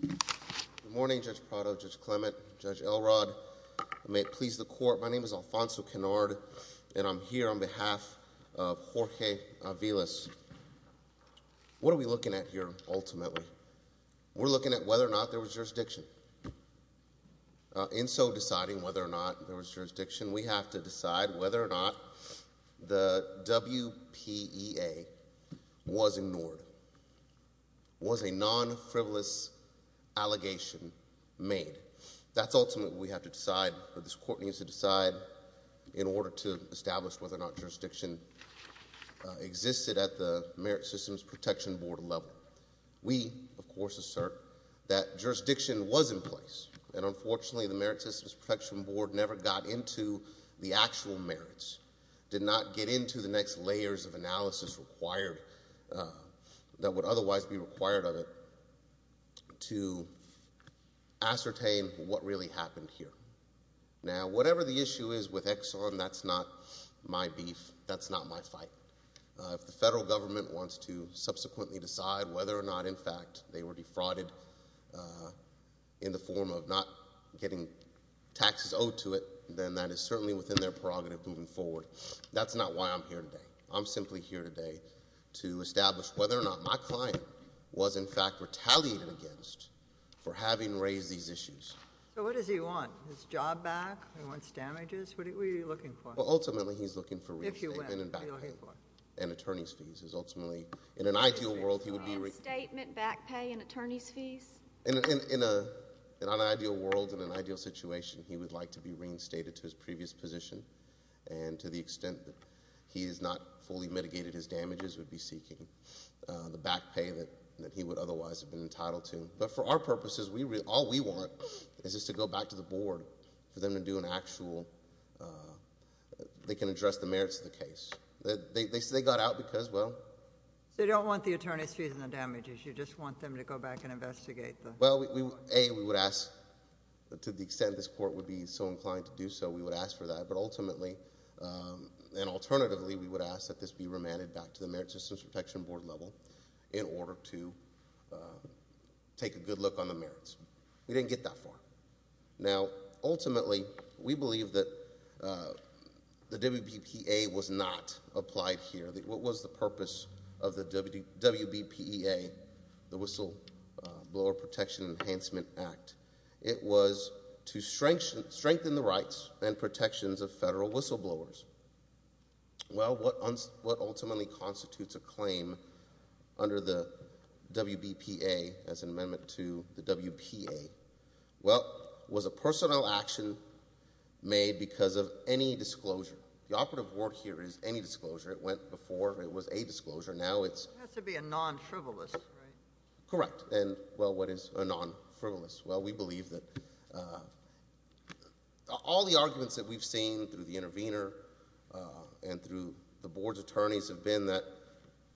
Good morning Judge Prado, Judge Clement, Judge Elrod. May it please the court, my name is Alfonso Kennard and I'm here on behalf of Jorge Aviles. What are we looking at here ultimately? We're looking at whether or not there was jurisdiction. In so deciding whether or not there was jurisdiction, we have to decide whether or not the WPEA was ignored, was a non-frivolous allegation made. That's ultimately what we have to decide, what this court needs to decide in order to establish whether or not jurisdiction existed at the Merit Systems Protection Board level. We, of course, assert that jurisdiction was in place and unfortunately the Merit Systems Protection Board never got into the actual merits, did not get into the next layers of analysis required that would otherwise be required of it to ascertain what really happened here. Now whatever the issue is with Exxon, that's not my beef, that's not my fight. If the federal government wants to subsequently decide whether or not in fact they were defrauded in the form of not getting taxes owed to it, then that is certainly within their prerogative moving forward. That's not why I'm here today. I'm simply here today to establish whether or not my client was in fact retaliated against for having raised these issues. So what does he want? His job back? He wants damages? What are we looking for? Ultimately he's looking for reinstatement and back pay and attorney's fees. Ultimately in an ideal world he would be... Reinstatement, back pay and attorney's fees? In an ideal world, in an ideal situation, he would like to be reinstated to his previous position and to the extent that he has not fully mitigated his damages, would be seeking the back pay that he would otherwise have been entitled to. But for our purposes, all we want is just to go back to the board for them to do an actual... they can address the merits of the case. They got out because, well... So you don't want the attorney's fees and the damages, you just want them to go back and investigate the... Well, A, we would ask, to the extent this court would be so inclined to do so, we would ask for that. But ultimately and alternatively we would ask that this be remanded back to the Merit Systems Protection Board level in order to take a good look on the merits. We didn't get that far. Now ultimately we believe that the WBPA was not applied here. What was the purpose of the WBPA, the Whistle Blower Protection Enhancement Act? It was to strengthen the rights and protections of federal whistleblowers. Well, what ultimately constitutes a claim under the WBPA as an amendment to the WPA? Well, was a personal action made because of any disclosure? The operative word here is any disclosure. It went before it was a disclosure. Now it's... It has to be a non-frivolous, right? Correct. And well, what is a non-frivolous? Well, we believe that... all the arguments that we've seen through the intervener and through the Board's attorneys have been that,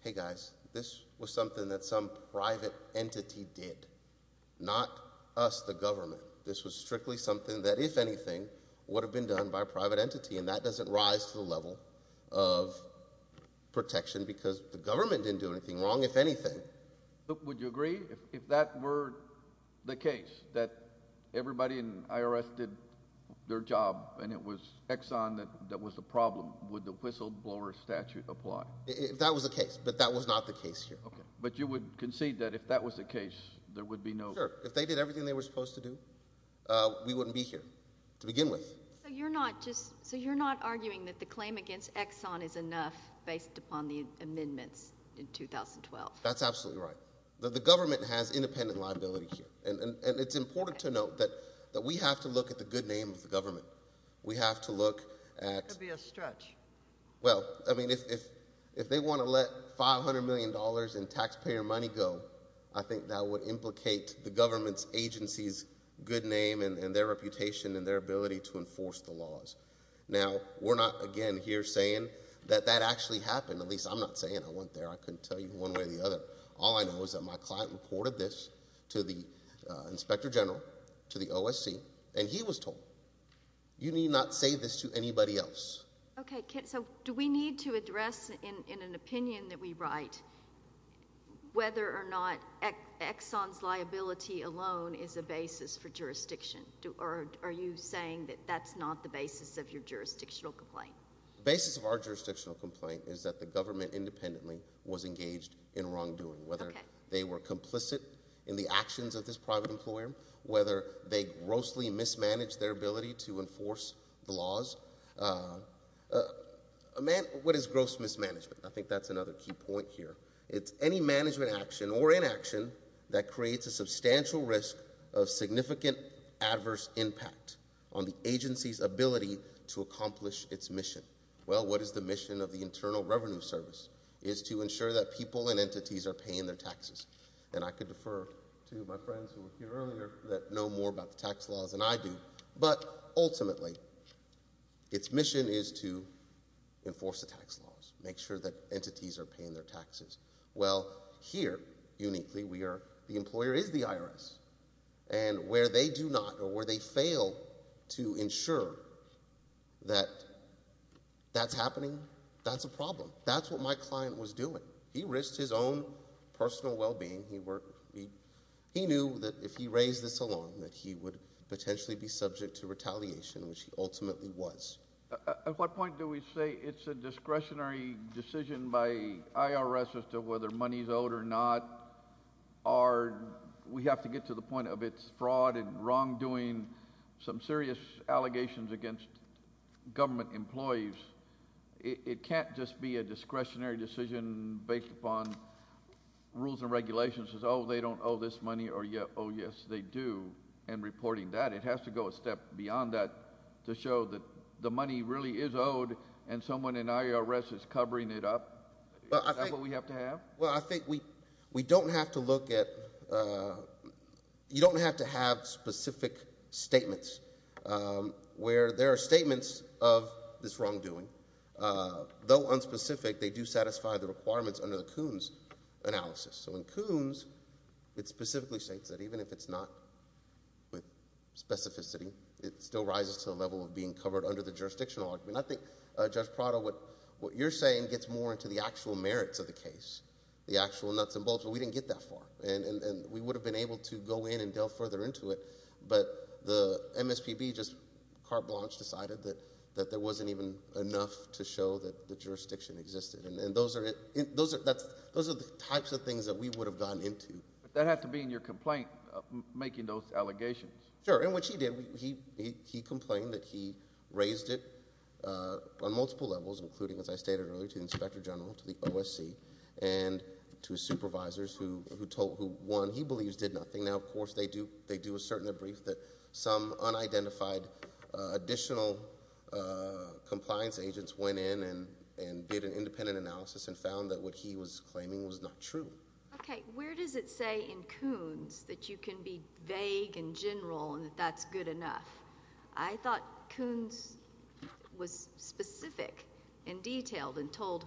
hey guys, this was something that some private entity did, not us, the government. This was strictly something that, if anything, would have been done by a private entity and that doesn't rise to the level of protection because the government didn't do anything wrong, if anything. Would you agree, if that were the case, that everybody in IRS did their job and it was Exxon that was the problem, would the Whistle Blower Statute apply? If that was the case, but that was not the case here. Okay, but you would concede that if that was the case, there would be no... Sure. If they did everything they were supposed to do, we wouldn't be here to argue. You're not arguing that the claim against Exxon is enough based upon the amendments in 2012. That's absolutely right. The government has independent liability here and it's important to note that we have to look at the good name of the government. We have to look at... That would be a stretch. Well, I mean, if they want to let 500 million dollars in taxpayer money go, I think that would implicate the government's agency's good name and their reputation and their reputation. Now, we're not, again, here saying that that actually happened. At least, I'm not saying I went there. I couldn't tell you one way or the other. All I know is that my client reported this to the Inspector General, to the OSC, and he was told, you need not say this to anybody else. Okay, so do we need to address, in an opinion that we write, whether or not Exxon's liability alone is a basis for jurisdictional complaint? The basis of our jurisdictional complaint is that the government independently was engaged in wrongdoing, whether they were complicit in the actions of this private employer, whether they grossly mismanaged their ability to enforce the laws. What is gross mismanagement? I think that's another key point here. It's any management action or inaction that creates a substantial risk of significant adverse impact on the agency's ability to accomplish its mission. Well, what is the mission of the Internal Revenue Service? It is to ensure that people and entities are paying their taxes, and I could defer to my friends who were here earlier that know more about the tax laws than I do, but ultimately, its mission is to enforce the tax laws, make sure that entities are paying their taxes. Well, here, uniquely, the employer is the IRS, and where they do not or where they fail to ensure that that's happening, that's a problem. That's what my client was doing. He risked his own personal well-being. He knew that if he raised this alone, that he would potentially be subject to retaliation, which he ultimately was. At what point do we say it's a discretionary decision by IRS as to whether money is owed or not? We have to get to the point of it's fraud and wrongdoing, some serious allegations against government employees. It can't just be a discretionary decision based upon rules and regulations. Oh, they don't owe this money, or yes, they do, and reporting that. It has to go a step beyond that to show that the money really is owed, and someone in IRS is responsible for that. Well, I think we don't have to look at... you don't have to have specific statements, where there are statements of this wrongdoing. Though unspecific, they do satisfy the requirements under the Coons analysis. So in Coons, it specifically states that even if it's not with specificity, it still rises to the level of being covered under the jurisdictional argument. I think, Judge Prado, what you're saying gets more into the actual merits of the case, the actual nuts and bolts, but we didn't get that far, and we would have been able to go in and delve further into it, but the MSPB just carte blanche decided that there wasn't even enough to show that the jurisdiction existed, and those are the types of things that we would have gotten into. That had to be in your complaint, making those allegations. Sure, and what she did, he complained that he raised it on multiple levels, including, as I stated earlier, to the Inspector General, to the OSC, and to his supervisors, who, one, he believes did nothing. Now, of course, they do assert in their brief that some unidentified additional compliance agents went in and did an independent analysis and found that what he was claiming was not true. Okay, where does it say in Coons that you can be vague and detailed and told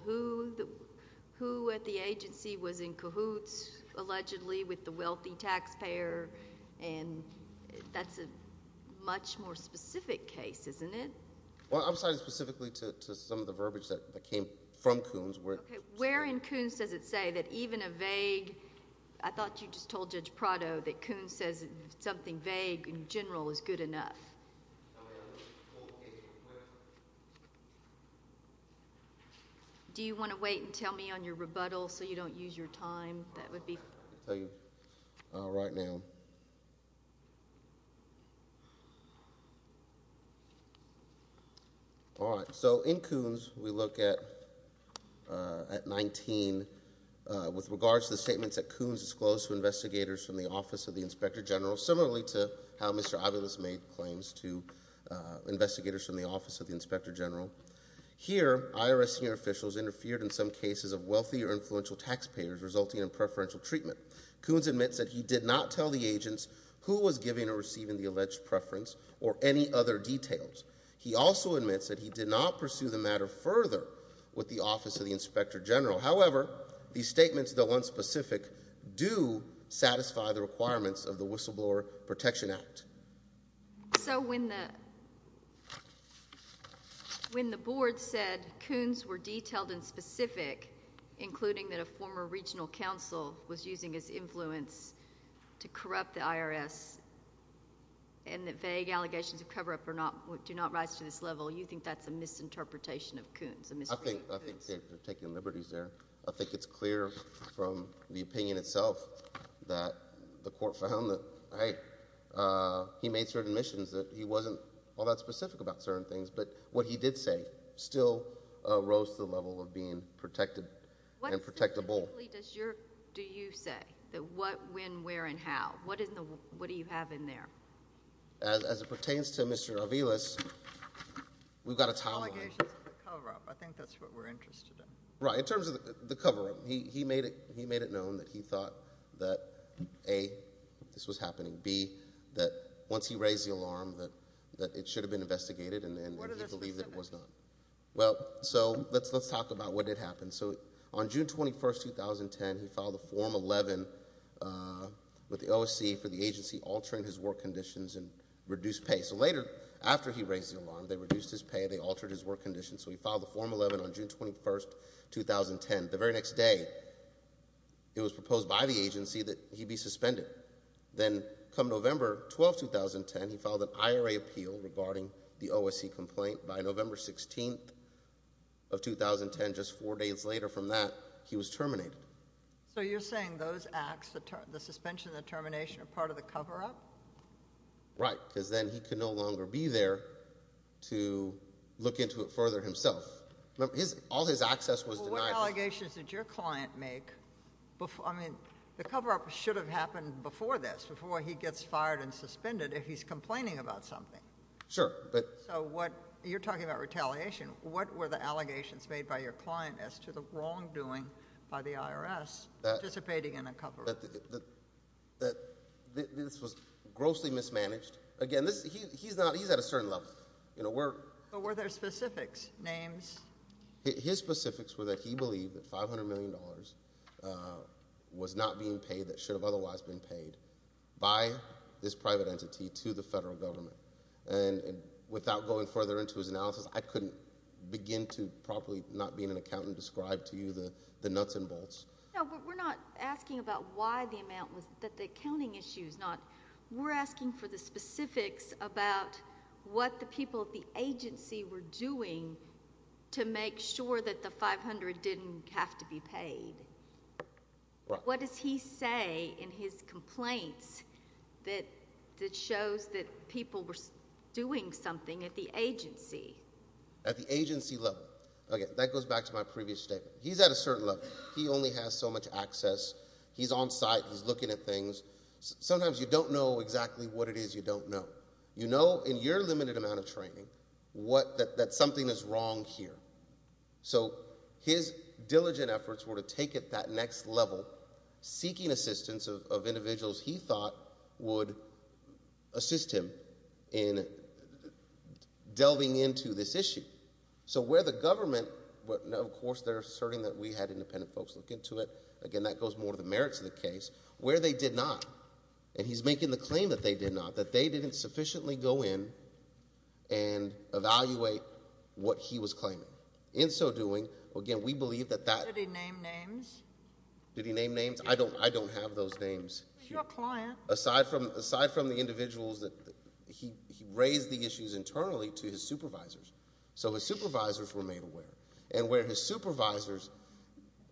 who at the agency was in cahoots, allegedly, with the wealthy taxpayer, and that's a much more specific case, isn't it? Well, I'm sorry, specifically to some of the verbiage that came from Coons. Okay, where in Coons does it say that even a vague... I thought you just told Judge Prado that Coons says something vague in general is good enough? Do you want to wait and tell me on your rebuttal so you don't use your time? That would be... All right, so in Coons, we look at 19 with regards to the statements that Coons disclosed to investigators from the Office of the Inspector General, similarly to how Mr. Aviles made claims to investigators from the Office of the Inspector General. Here, IRS senior officials interfered in some cases of wealthy or influential taxpayers, resulting in preferential treatment. Coons admits that he did not tell the agents who was giving or receiving the alleged preference or any other details. He also admits that he did not pursue the matter further with the Office of the Inspector General. However, these statements, though unspecific, do satisfy the requirements of the When the board said Coons were detailed and specific, including that a former regional counsel was using his influence to corrupt the IRS and that vague allegations of cover-up do not rise to this level, you think that's a misinterpretation of Coons? I think they're taking liberties there. I think it's clear from the opinion itself that the court found that, hey, he made certain things, but what he did say still rose to the level of being protected and protectable. What specifically do you say? That what, when, where, and how? What is the, what do you have in there? As it pertains to Mr. Aviles, we've got a towel on him. Allegations of cover-up, I think that's what we're interested in. Right, in terms of the cover-up, he made it, he made it known that he thought that, A, this was happening, B, that once he raised the alarm that it should have been investigated, and he believed that it was not. Well, so let's, let's talk about what did happen. So on June 21st, 2010, he filed a Form 11 with the OSC for the agency altering his work conditions and reduced pay. So later, after he raised the alarm, they reduced his pay, they altered his work conditions, so he filed a Form 11 on June 21st, 2010. The very next day, it was proposed by the agency that he'd be the OSC complaint. By November 16th of 2010, just four days later from that, he was terminated. So you're saying those acts, the suspension, the termination, are part of the cover-up? Right, because then he could no longer be there to look into it further himself. His, all his access was denied. What allegations did your client make before, I mean, the cover-up should have happened before this, before he gets fired and suspended, if he's complaining about something. Sure, but. So what, you're talking about retaliation, what were the allegations made by your client as to the wrongdoing by the IRS participating in a cover-up? That, this was grossly mismanaged. Again, this, he's not, he's at a certain level, you know, we're. But were there specifics, names? His specifics were that he believed that $500 million was not being paid that should have otherwise been paid by this private entity to the federal government. And without going further into his analysis, I couldn't begin to properly, not being an accountant, describe to you the nuts and bolts. No, but we're not asking about why the amount was, that the accounting issue is not, we're asking for the specifics about what the people at the agency were doing to make sure that the $500 didn't have to be paid. What does he say in his complaints that shows that people were doing something at the agency? At the agency level. Okay, that goes back to my previous statement. He's at a certain level. He only has so much access. He's on-site, he's looking at things. Sometimes you don't know exactly what it is you don't know. You know in your limited amount of training what, that something is wrong here. So his diligent efforts were to take it that next level, seeking assistance of individuals he thought would assist him in delving into this issue. So where the government, but now of course they're asserting that we had independent folks look into it, again that goes more to the merits of the case, where they did not, and he's making the claim that they did not, that they didn't sufficiently go in and evaluate what he was claiming. In so doing, again we believe that that... Did he name names? Did he name names? I don't, I don't have those names. He's your client. Aside from, aside from the individuals that, he raised the issues internally to his supervisors. So his supervisors were made aware. And where his supervisors,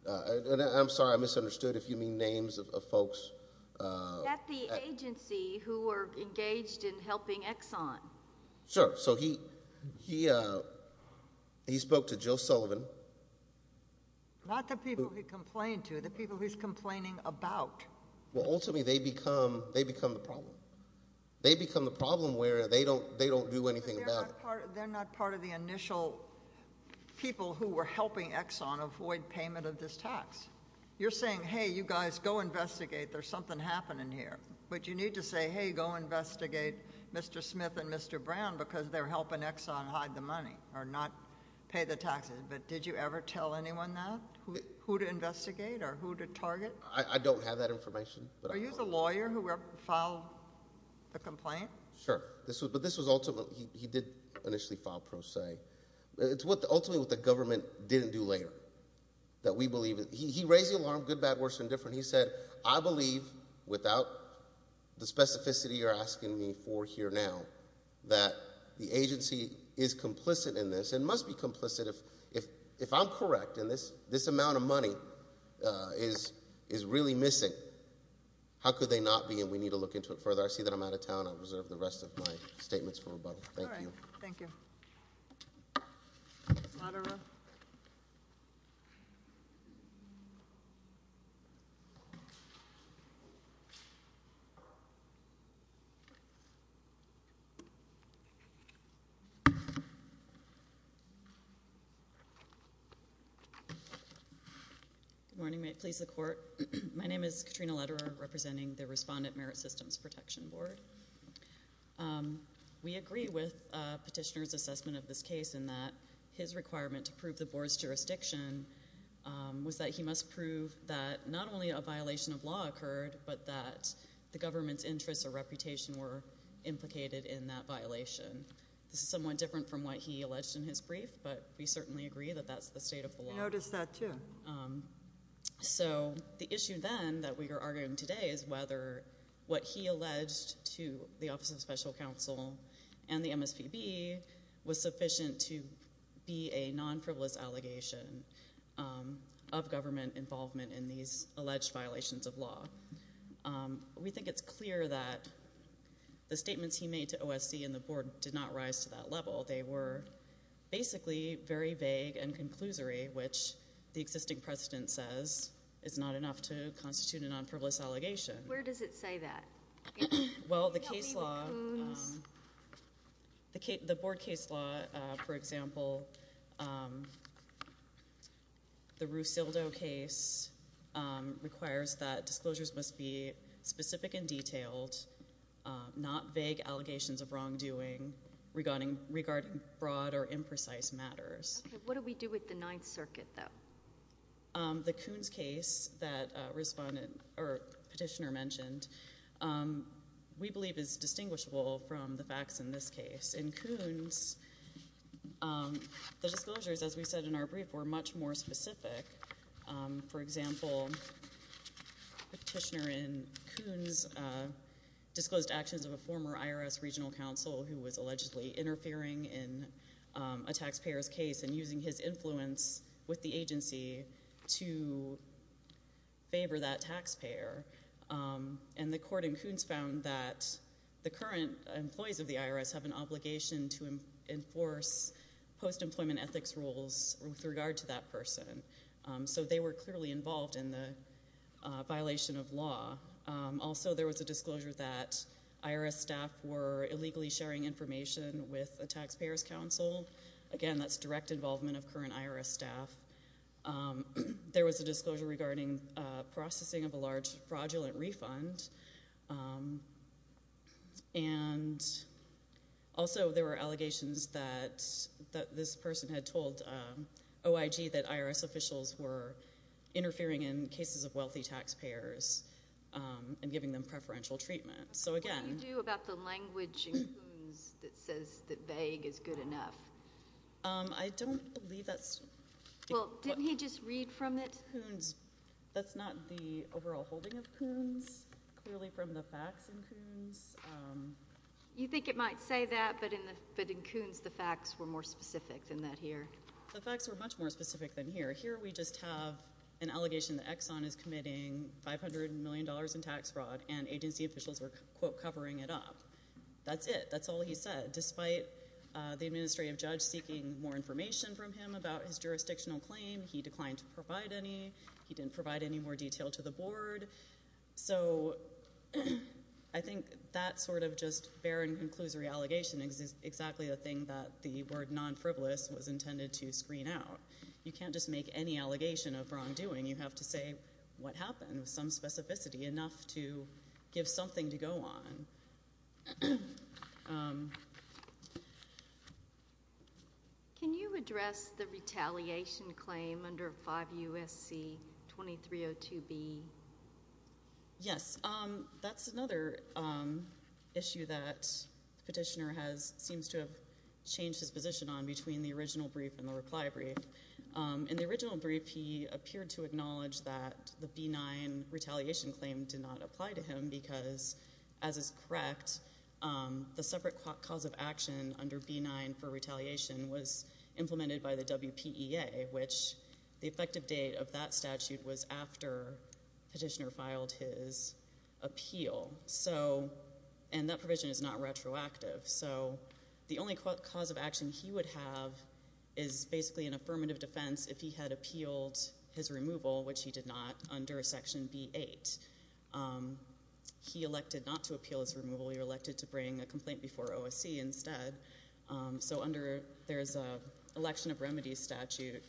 and I'm sorry I misunderstood if you mean names of folks. At the agency who were engaged in helping Exxon. Sure, so he, he, he spoke to Joe Sullivan. Not the people he complained to, the people he's complaining about. Well ultimately they become, they become the problem. They become the problem where they don't, they don't do anything about it. They're not part of the initial people who were helping Exxon avoid payment of this tax. You're saying, hey you guys go investigate. There's something happening here. But you need to say, hey go investigate Mr. Smith and Mr. Brown because they're helping Exxon hide the money, or not pay the taxes. But did you ever tell anyone that? Who to investigate or who to target? I don't have that information. But are you the lawyer who filed the complaint? Sure, this was, but this was ultimately, he did initially file pro se. It's what, ultimately what the government didn't do later. That we said, I believe without the specificity you're asking me for here now, that the agency is complicit in this and must be complicit if, if, if I'm correct in this, this amount of money is, is really missing. How could they not be? And we need to look into it further. I see that I'm out of town. I'll reserve the rest of my statements for rebuttal. Thank you. Good morning. May it please the court. My name is Katrina Lederer, representing the Respondent Merit Systems Protection Board. We agree with petitioner's assessment of this case in that his requirement to prove the board's violation of law occurred, but that the government's interests or reputation were implicated in that violation. This is somewhat different from what he alleged in his brief, but we certainly agree that that's the state of the law. I noticed that too. So the issue then that we are arguing today is whether what he alleged to the Office of Special Counsel and the MSPB was sufficient to be a non-privilege allegation of government involvement in these alleged violations of law. We think it's clear that the statements he made to OSC and the board did not rise to that level. They were basically very vague and conclusory, which the existing precedent says is not enough to constitute a non-privilege allegation. Where does it say that? Well, the case law, the board case law, for example, the Rusildo case requires that disclosures must be specific and detailed, not vague allegations of wrongdoing regarding broad or imprecise matters. What do we do with the Ninth Circuit, though? The Coons case that Petitioner mentioned, we believe is distinguishable from the facts in this case. In Coons, the disclosures, as we said in our brief, were much more specific. For example, Petitioner in Coons disclosed actions of a former IRS regional counsel who was allegedly interfering in a taxpayer's case and using his influence with the agency to favor that taxpayer. And the court in Coons found that the current employees of the IRS have an obligation to enforce post-employment ethics rules with regard to that person. So they were clearly involved in the violation of law. Also, there was a disclosure that IRS staff were illegally sharing information with a taxpayer's counsel. Again, that's direct involvement of current IRS staff. There was a disclosure regarding processing of a large fraudulent refund. And also, there were allegations that this person had told OIG that IRS officials were interfering in cases of wealthy taxpayers and giving them preferential treatment. So again... What do you do about the language in Coons that says that vague is good enough? I don't believe that's... Well, didn't he just read from it? That's not the overall holding of Coons. Clearly from the facts in Coons... You think it might say that, but in Coons, the facts were more specific than that here. The facts were much more specific than here. Here, we just have an allegation that Exxon is committing $500 million in tax fraud and agency officials were, quote, covering it up. That's it. That's all he said, despite the administrative judge seeking more information from him about his jurisdictional claim. He declined to provide any. He didn't provide any more detail to the board. So, I think that sort of just barren conclusory allegation is exactly the thing that the word non-frivolous was intended to screen out. You can't just make any allegation of wrongdoing. You have to say what happened with some Can you address the retaliation claim under 5 U.S.C. 2302B? Yes. That's another issue that the petitioner seems to have changed his position on between the original brief and the reply brief. In the original brief, he appeared to acknowledge that the B-9 petitioner filed his appeal. So, and that provision is not retroactive. So, the only cause of action he would have is basically an affirmative defense if he had appealed his removal, which he did not, under Section B-8. He elected not to appeal his removal. He elected to bring a complaint before OSC instead. So, under, there's an election of remedies statute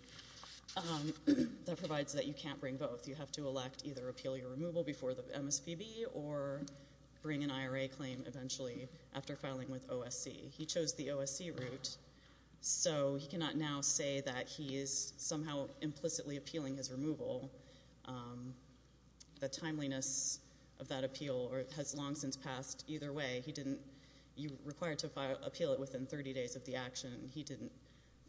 that provides that you can't bring both. You have to elect either appeal your removal before the MSPB or bring an IRA claim eventually after filing with OSC. He chose the OSC route. So, he cannot now say that he is somehow implicitly appealing his removal. The timeliness of that appeal has long since passed. Either way, he didn't, you're required to appeal it within 30 days of the action. He didn't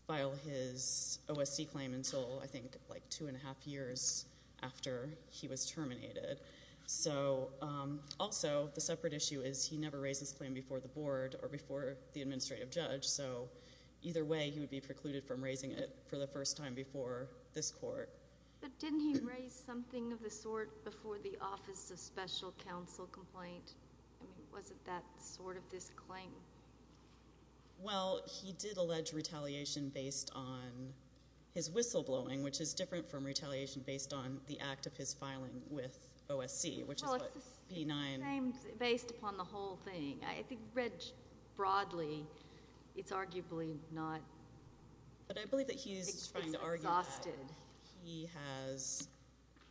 file his OSC claim until, I think, like two and a half years after he was terminated. So, also, the separate issue is he never raised this claim before the board or before the administrative judge. So, either way, he would be precluded from raising it for the first time before this court. But didn't he raise something of the sort before the Office of Special Counsel complaint? I mean, was it that sort of this claim? Well, he did allege retaliation based on his whistleblowing, which is different from retaliation based on the act of his filing with OSC, which is what B-9— Well, it's the same based upon the whole thing. I think read broadly, it's arguably not— But I believe that he is trying to argue that he has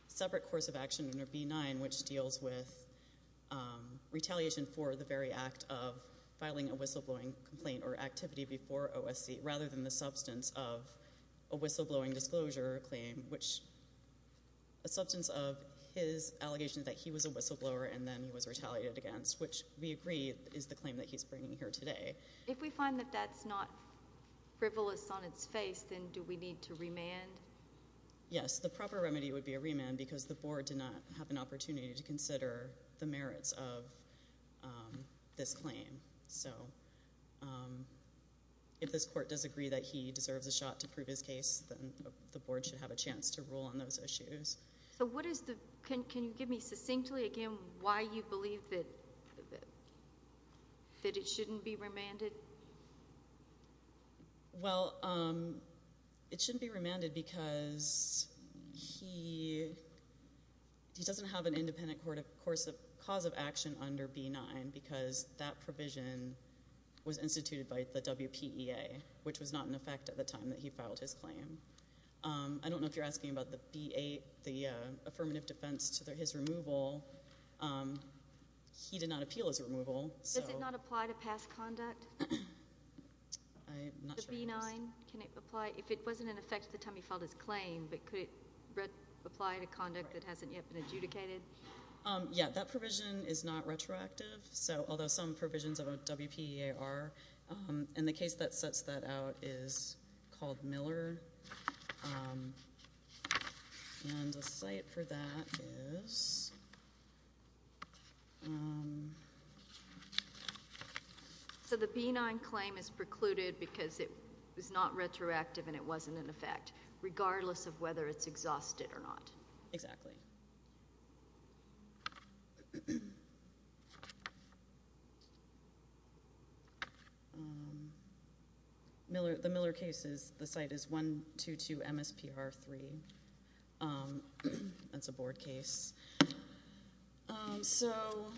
separate course of action under B-9, which deals with retaliation for the very act of filing OSC. Rather than the substance of a whistleblowing disclosure claim, which a substance of his allegation that he was a whistleblower and then he was retaliated against, which we agree is the claim that he's bringing here today. If we find that that's not frivolous on its face, then do we need to remand? Yes. The proper remedy would be a remand because the board did not have an opportunity to consider the merits of this claim. So if this court does agree that he deserves a shot to prove his case, then the board should have a chance to rule on those issues. So what is the—can you give me succinctly, again, why you believe that it shouldn't be remanded? Well, it shouldn't be remanded because he doesn't have an independent cause of action under B-9 because that provision was instituted by the WPEA, which was not in effect at the time that he filed his claim. I don't know if you're asking about the B-8, the affirmative defense to his removal. He did not appeal his removal, so— The B-9, can it apply—if it wasn't in effect at the time he filed his claim, but could it apply to conduct that hasn't yet been adjudicated? Yeah, that provision is not retroactive, so although some provisions of a WPEA are, and the case that sets that out is called Miller. And the site for that is— So the B-9 claim is precluded because it was not retroactive and it wasn't in effect, regardless of whether it's exhausted or not. Exactly. The Miller case, the site is 122 MSPR 3. That's a board case. So,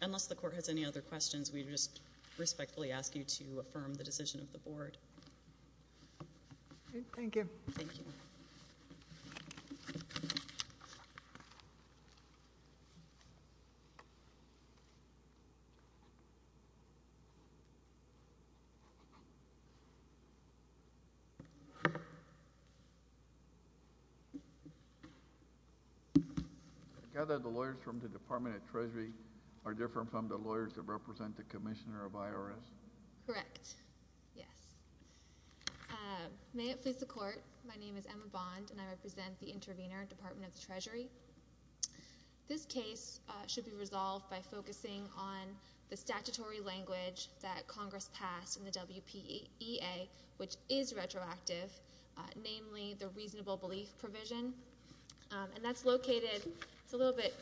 unless the court has any other questions, we respectfully ask you to affirm the decision of the board. Thank you. I gather the lawyers from the Department of Treasury are different from the lawyers that represent the Commissioner of IRS? Correct. Yes. May it please the Court, my name is Emma Bond, and I represent the intervener, Department of the Treasury. This case should be resolved by focusing on the statutory language that Congress passed in the WPEA, which is retroactive, namely the reasonable belief provision. And that's located—it's a little bit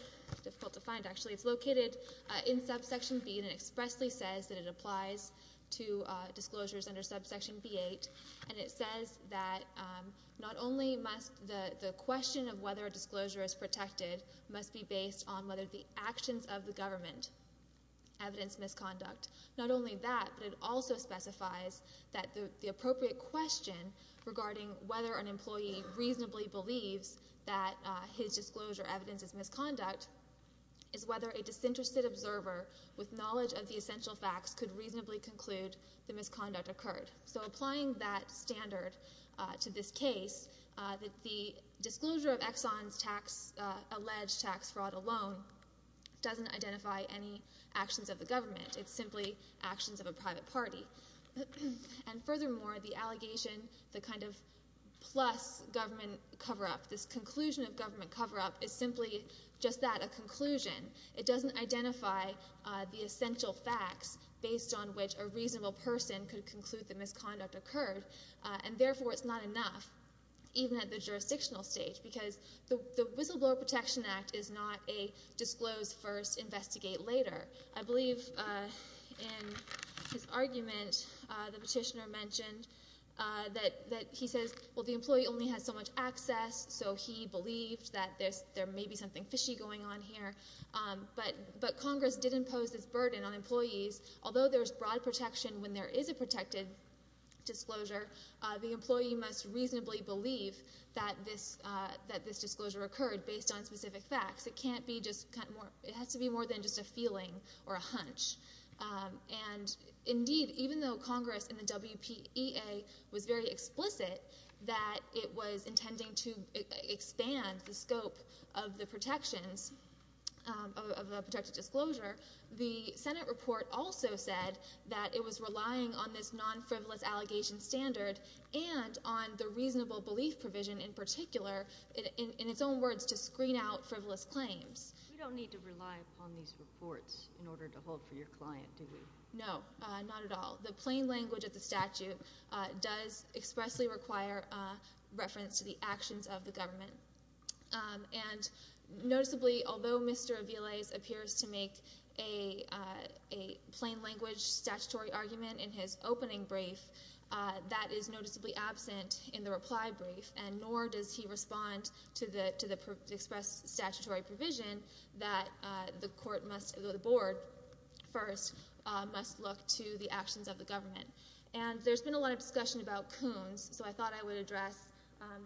difficult to find, actually—it's located in subsection B, and it expressly says that it applies to disclosures under subsection B-8. And it says that not only must the question of whether a disclosure is protected must be based on whether the actions of the government evidence misconduct. Not only that, but it also specifies that the appropriate question regarding whether an employee reasonably believes that his disclosure evidence is misconduct is whether a disinterested observer with knowledge of the essential facts could reasonably conclude the misconduct occurred. So applying that standard to this case, the disclosure of Exxon's tax—alleged tax fraud alone doesn't identify any actions of the government. It's simply actions of a private party. And furthermore, the allegation, the kind of plus government cover-up, this conclusion of government cover-up is simply just that, a conclusion. It doesn't identify the essential facts based on which a reasonable person could conclude the misconduct occurred. And therefore, it's not enough, even at the jurisdictional stage, because the Whistleblower Protection Act is not a disclose first, investigate later. I believe in his argument, the petitioner mentioned that he says, well, the employee only has so much access, so he believed that there may be something fishy going on here. But Congress did impose this burden on employees. Although there's broad protection when there is a protected disclosure, the employee must reasonably believe that this disclosure occurred based on specific facts. It can't be just—it has to be more than just a feeling or a hunch. And indeed, even though Congress in the WPEA was very explicit that it was intending to expand the scope of the protections, of a protected disclosure, the Senate report also said that it was relying on this non-frivolous allegation standard and on the reasonable belief provision in particular, in its own words, to screen out frivolous claims. We don't need to rely upon these reports in order to hold for your client, do we? No, not at all. The plain language of the statute does expressly require reference to the actions of the government. And noticeably, although Mr. Aviles appears to make a plain language statutory argument in his opening brief, that is noticeably absent in the reply brief, and nor does he respond to the expressed statutory provision that the board first must look to the actions of the government. And there's been a lot of discussion about Coons, so I thought I would address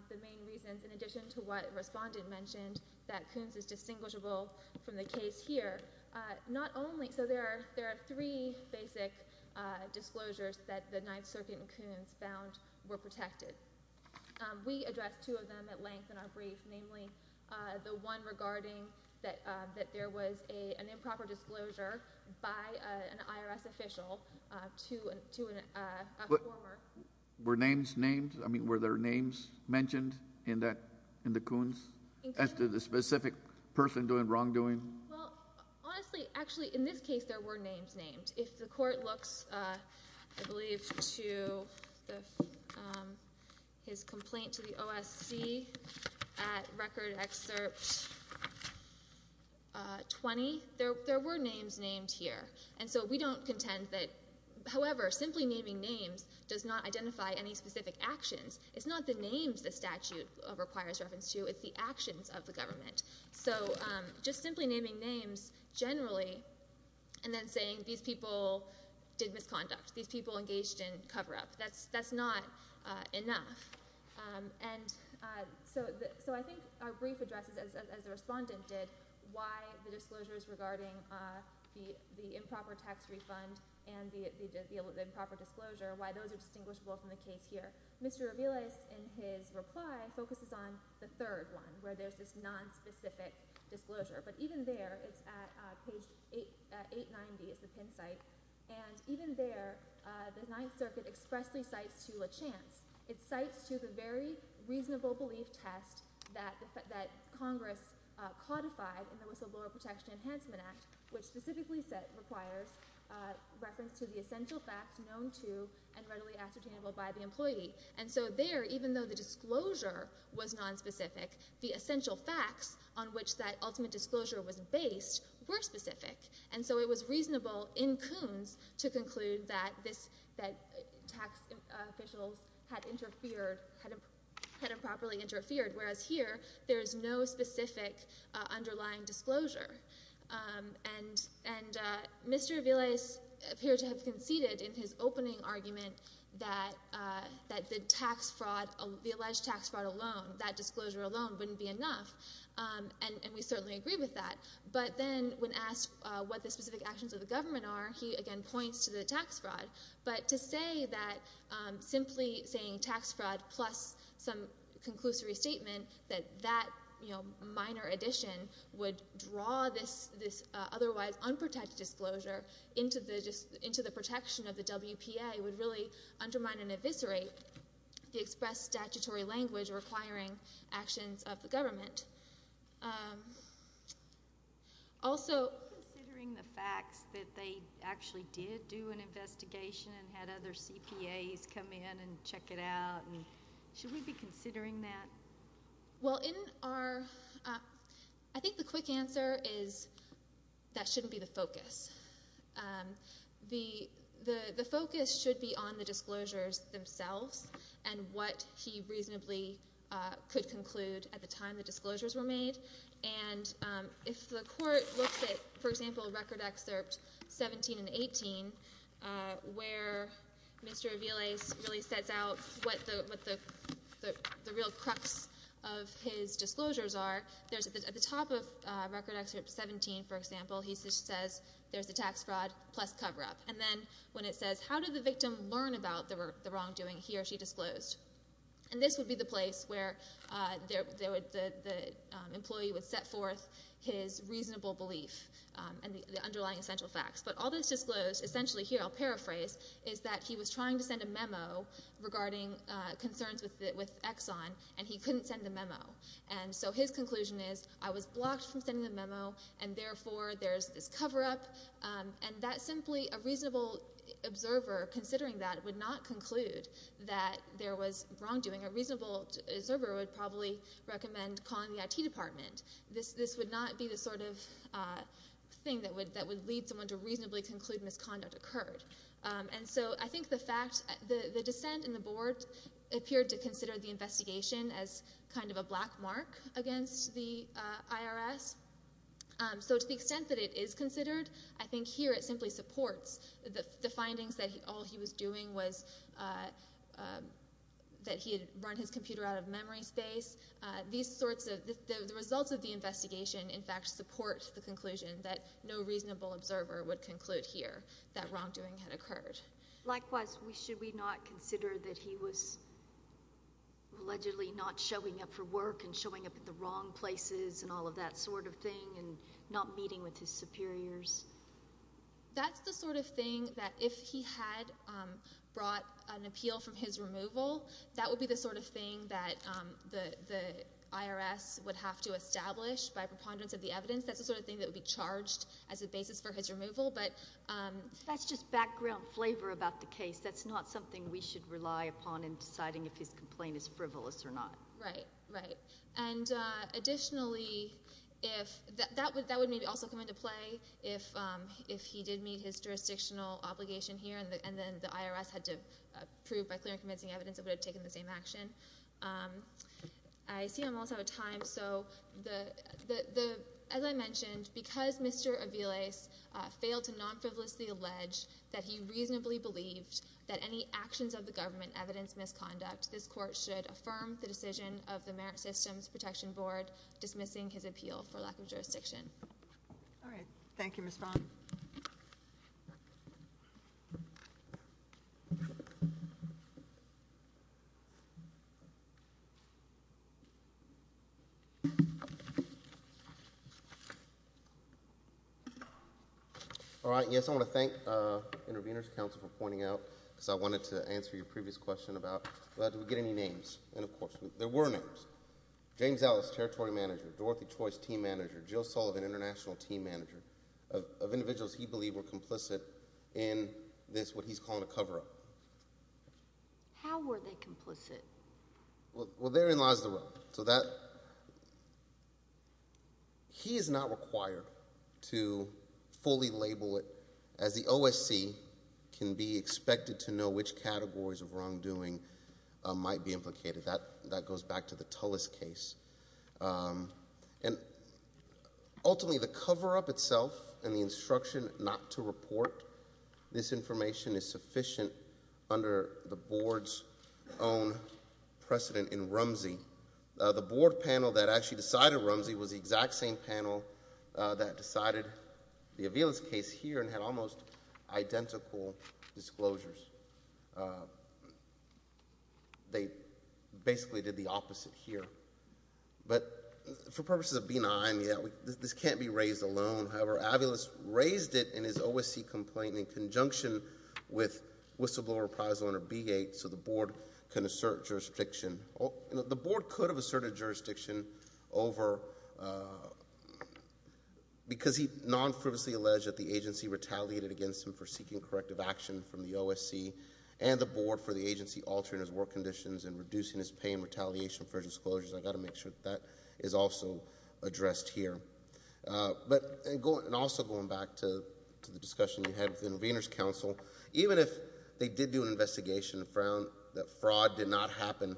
the main reasons, in addition to what Respondent mentioned, that Coons is distinguishable from the case here. There are three basic disclosures that the Ninth Circuit and Coons found were protected. We addressed two of them at length in our brief, namely the one regarding that there was an improper disclosure by an IRS official to a former... Were names named? I mean, were there names mentioned in the Coons? As to the specific person doing wrongdoing? Well, honestly, actually, in this case, there were names named. If the Court looks I believe to his complaint to the OSC at Record Excerpt 20, there were names named here. And so we don't contend that, however, simply naming names does not identify any specific actions. It's not the names the statute requires reference to, it's the actions of the government. So just simply naming names, generally, and then saying these people did misconduct, these people engaged in cover-up. That's not enough. So I think our brief addresses, as the Respondent did, why the disclosures regarding the improper tax refund and the improper disclosure, why those are distinguishable from the case here. Mr. Aviles, in his reply, focuses on the third one where there's this nonspecific disclosure. But even there, it's at page 890, it's the Penn site, and even there the Ninth Circuit expressly cites to LaChance, it cites to the very reasonable belief test that Congress codified in the Whistleblower Protection Enhancement Act, which specifically requires reference to the essential facts known to and readily ascertainable by the employee. And so there, even though the disclosure was nonspecific, the essential facts on which that ultimate disclosure was based were specific. And so it was reasonable in Coons to conclude that tax officials had interfered, had improperly interfered, whereas here, there is no specific underlying disclosure. And Mr. Aviles appeared to have conceded in his opening argument that the tax fraud, the alleged tax fraud alone, that disclosure alone, wouldn't be enough. And we certainly agree with that. But then, when asked what the specific actions of the government are, he again points to the tax fraud. But to say that simply saying tax fraud plus some conclusory statement, that that minor addition would draw this otherwise unprotected disclosure into the protection of the WPA would really undermine and eviscerate the expressed statutory language requiring actions of the government. Also... ...that they actually did do an investigation and had other CPAs come in and check it out. Should we be considering that? Well, in our...I think the quick answer is that shouldn't be the focus. The focus should be on the disclosures themselves and what he reasonably could conclude at the time the disclosures were made. And if the Court looks at, for example, Record Excerpt 17 and 18 where Mr. Aviles really sets out what the real crux of his disclosures are at the top of Record Excerpt 17, for example, he says there's a tax fraud plus cover-up. And then when it says, how did the victim learn about the wrongdoing? He or she disclosed. And this would be the place where the employee would set forth his reasonable belief and the underlying essential facts. But all that's disclosed, essentially here, I'll paraphrase, is that he was trying to send a memo regarding concerns with Exxon and he couldn't send a memo. And so his conclusion is, I was blocked from sending a memo and therefore there's this cover-up. And that simply...a reasonable observer, considering that, would not conclude that there was wrongdoing. A reasonable observer would probably recommend calling the IT department. This would not be the sort of thing that would lead someone to reasonably conclude misconduct occurred. And so I think the fact...the dissent in the board appeared to consider the investigation as kind of a black mark against the IRS. So to the extent that it is considered, I think here it simply supports the findings that all he was doing was...that he had run his computer out of memory space. These sorts of...the results of the investigation, in fact, support the conclusion that no reasonable observer would conclude here that wrongdoing had occurred. Likewise, should we not consider that he was allegedly not showing up for work and showing up at the wrong places and all of that sort of thing and not meeting with his superiors? That's the sort of thing that if he had brought an appeal from his removal, that would be the sort of thing that the IRS would have to establish by preponderance of the evidence. That's the sort of thing that would be charged as a basis for his removal. That's just background flavor about the case. That's not something we should rely upon in deciding if his complaint is frivolous or not. Additionally, that would maybe also come into play if he did meet his jurisdictional obligation here and then the IRS had to prove by clear and convincing evidence it would have taken the same action. I see I'm almost out of time. As I mentioned, because Mr. Aviles failed to non-frivolously allege that he reasonably believed that any actions of the government evidenced misconduct, this Court should affirm the decision of the Merit Systems Protection Board dismissing his appeal for lack of jurisdiction. Yes, I want to thank Intervenors Council for pointing out because I wanted to answer your previous question about did we get any names? Of course, there were names. James Ellis, Territory Manager, Dorothy Choice, Team Manager, Jill Sullivan, International Team Manager of individuals he believed were complicit in this, what he's calling a cover-up. How were they complicit? Well, therein lies the rub. He is not required to fully label it as the OSC can be expected to know which categories of wrongdoing might be implicated. That goes back to the Tullis case. Ultimately, the cover-up itself and the instruction not to report this information is sufficient under the Board's own precedent in Rumsey. The Board panel that actually decided Rumsey was the exact same panel that decided the Aviles case here and had almost identical disclosures. They basically did the opposite here. But for purposes of benign, this can't be raised alone. However, Aviles raised it in his OSC complaint in conjunction with whistleblower appraisal under B-8 so the Board can assert jurisdiction. The Board could have asserted jurisdiction over, because he non-frivolously alleged that the agency retaliated against him for seeking corrective action from the OSC and the Board for the agency altering his work conditions and reducing his pay and retaliation for his disclosures. I've got to make sure that is also addressed here. Also going back to the discussion you had with the Intervenors Council, even if they did do an investigation and found that fraud did not happen,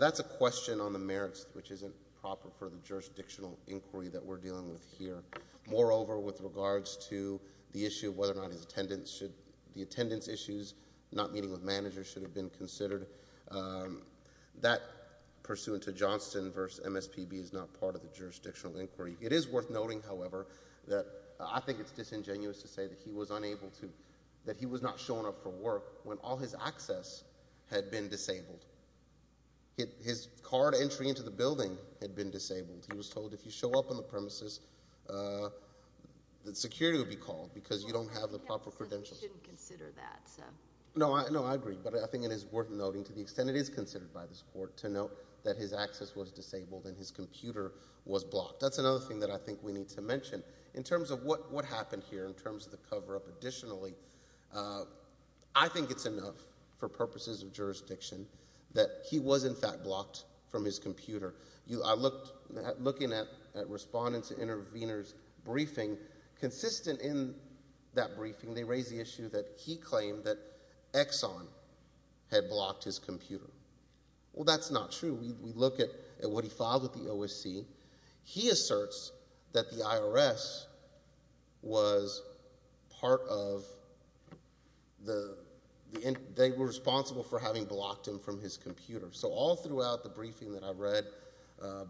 that's a question on the merits, which isn't proper for the jurisdictional inquiry that we're dealing with here. Moreover, with regards to the issue of whether or not the attendance issues, not meeting with managers, should have been considered, that pursuant to Johnston v. MSPB is not part of the jurisdictional inquiry. It is worth noting, however, that I think it's disingenuous to say that he was unable to, that he was not shown up for work when all his access had been disabled. His card entry into the building had been disabled. He was told if you show up on the premises that security would be called because you don't have the proper credentials. No, I agree, but I think it is worth noting to the extent it is considered by this Court to note that his access was disabled and his computer was blocked. That's another thing that I think we need to mention. In terms of what happened here, in terms of the cover-up additionally, I think it's enough for purposes of jurisdiction that he was in fact blocked from his computer. I looked, looking at respondents and intervenors' briefing, consistent in that briefing they raised the issue that he claimed that Exxon had blocked his computer. Well, that's not true. We look at what he filed with the OSC. He asserts that the IRS was part of the, they were responsible for having blocked him from his computer. So all throughout the briefing that I read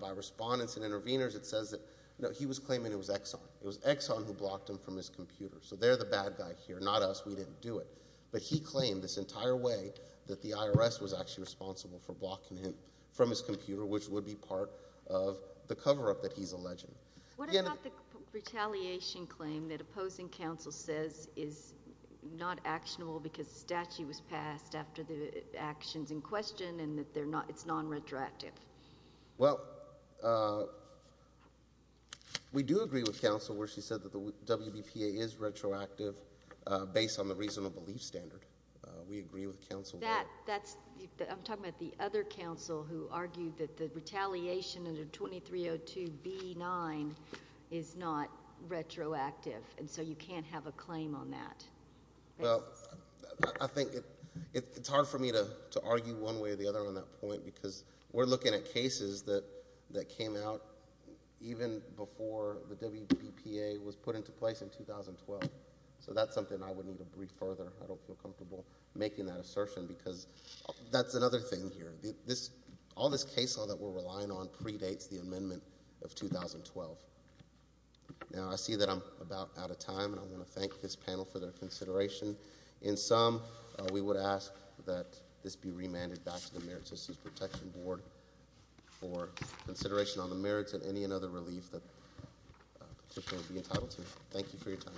by respondents and intervenors, it says that he was claiming it was Exxon. It was Exxon who blocked him from his computer. So they're the bad guy here, not us. We didn't do it. But he claimed this entire way that the IRS was actually responsible for blocking him from his computer, which would be part of the cover-up that he's alleging. What about the retaliation claim that opposing counsel says is not actionable because the statute was passed after the action's in question and that it's non-retroactive? Well, uh, we do agree with counsel where she said that the WBPA is retroactive based on the reasonable belief standard. We agree with counsel. That's, I'm talking about the other counsel who argued that the retaliation under 2302 B-9 is not retroactive. And so you can't have a claim on that. Well, I think it's hard for me to argue one way or the other on that point because we're looking at cases that came out even before the WBPA was put into place in 2012. So that's something I would need to read further. I don't feel comfortable making that assertion because that's another thing here. All this case law that we're relying on predates the amendment of 2012. Now, I see that I'm about out of time. I'm going to thank this panel for their consideration. In sum, we would ask that this be remanded back to the Merit Systems Protection Board for consideration on the merits and any and other relief that the petitioner would be entitled to. Thank you for your time.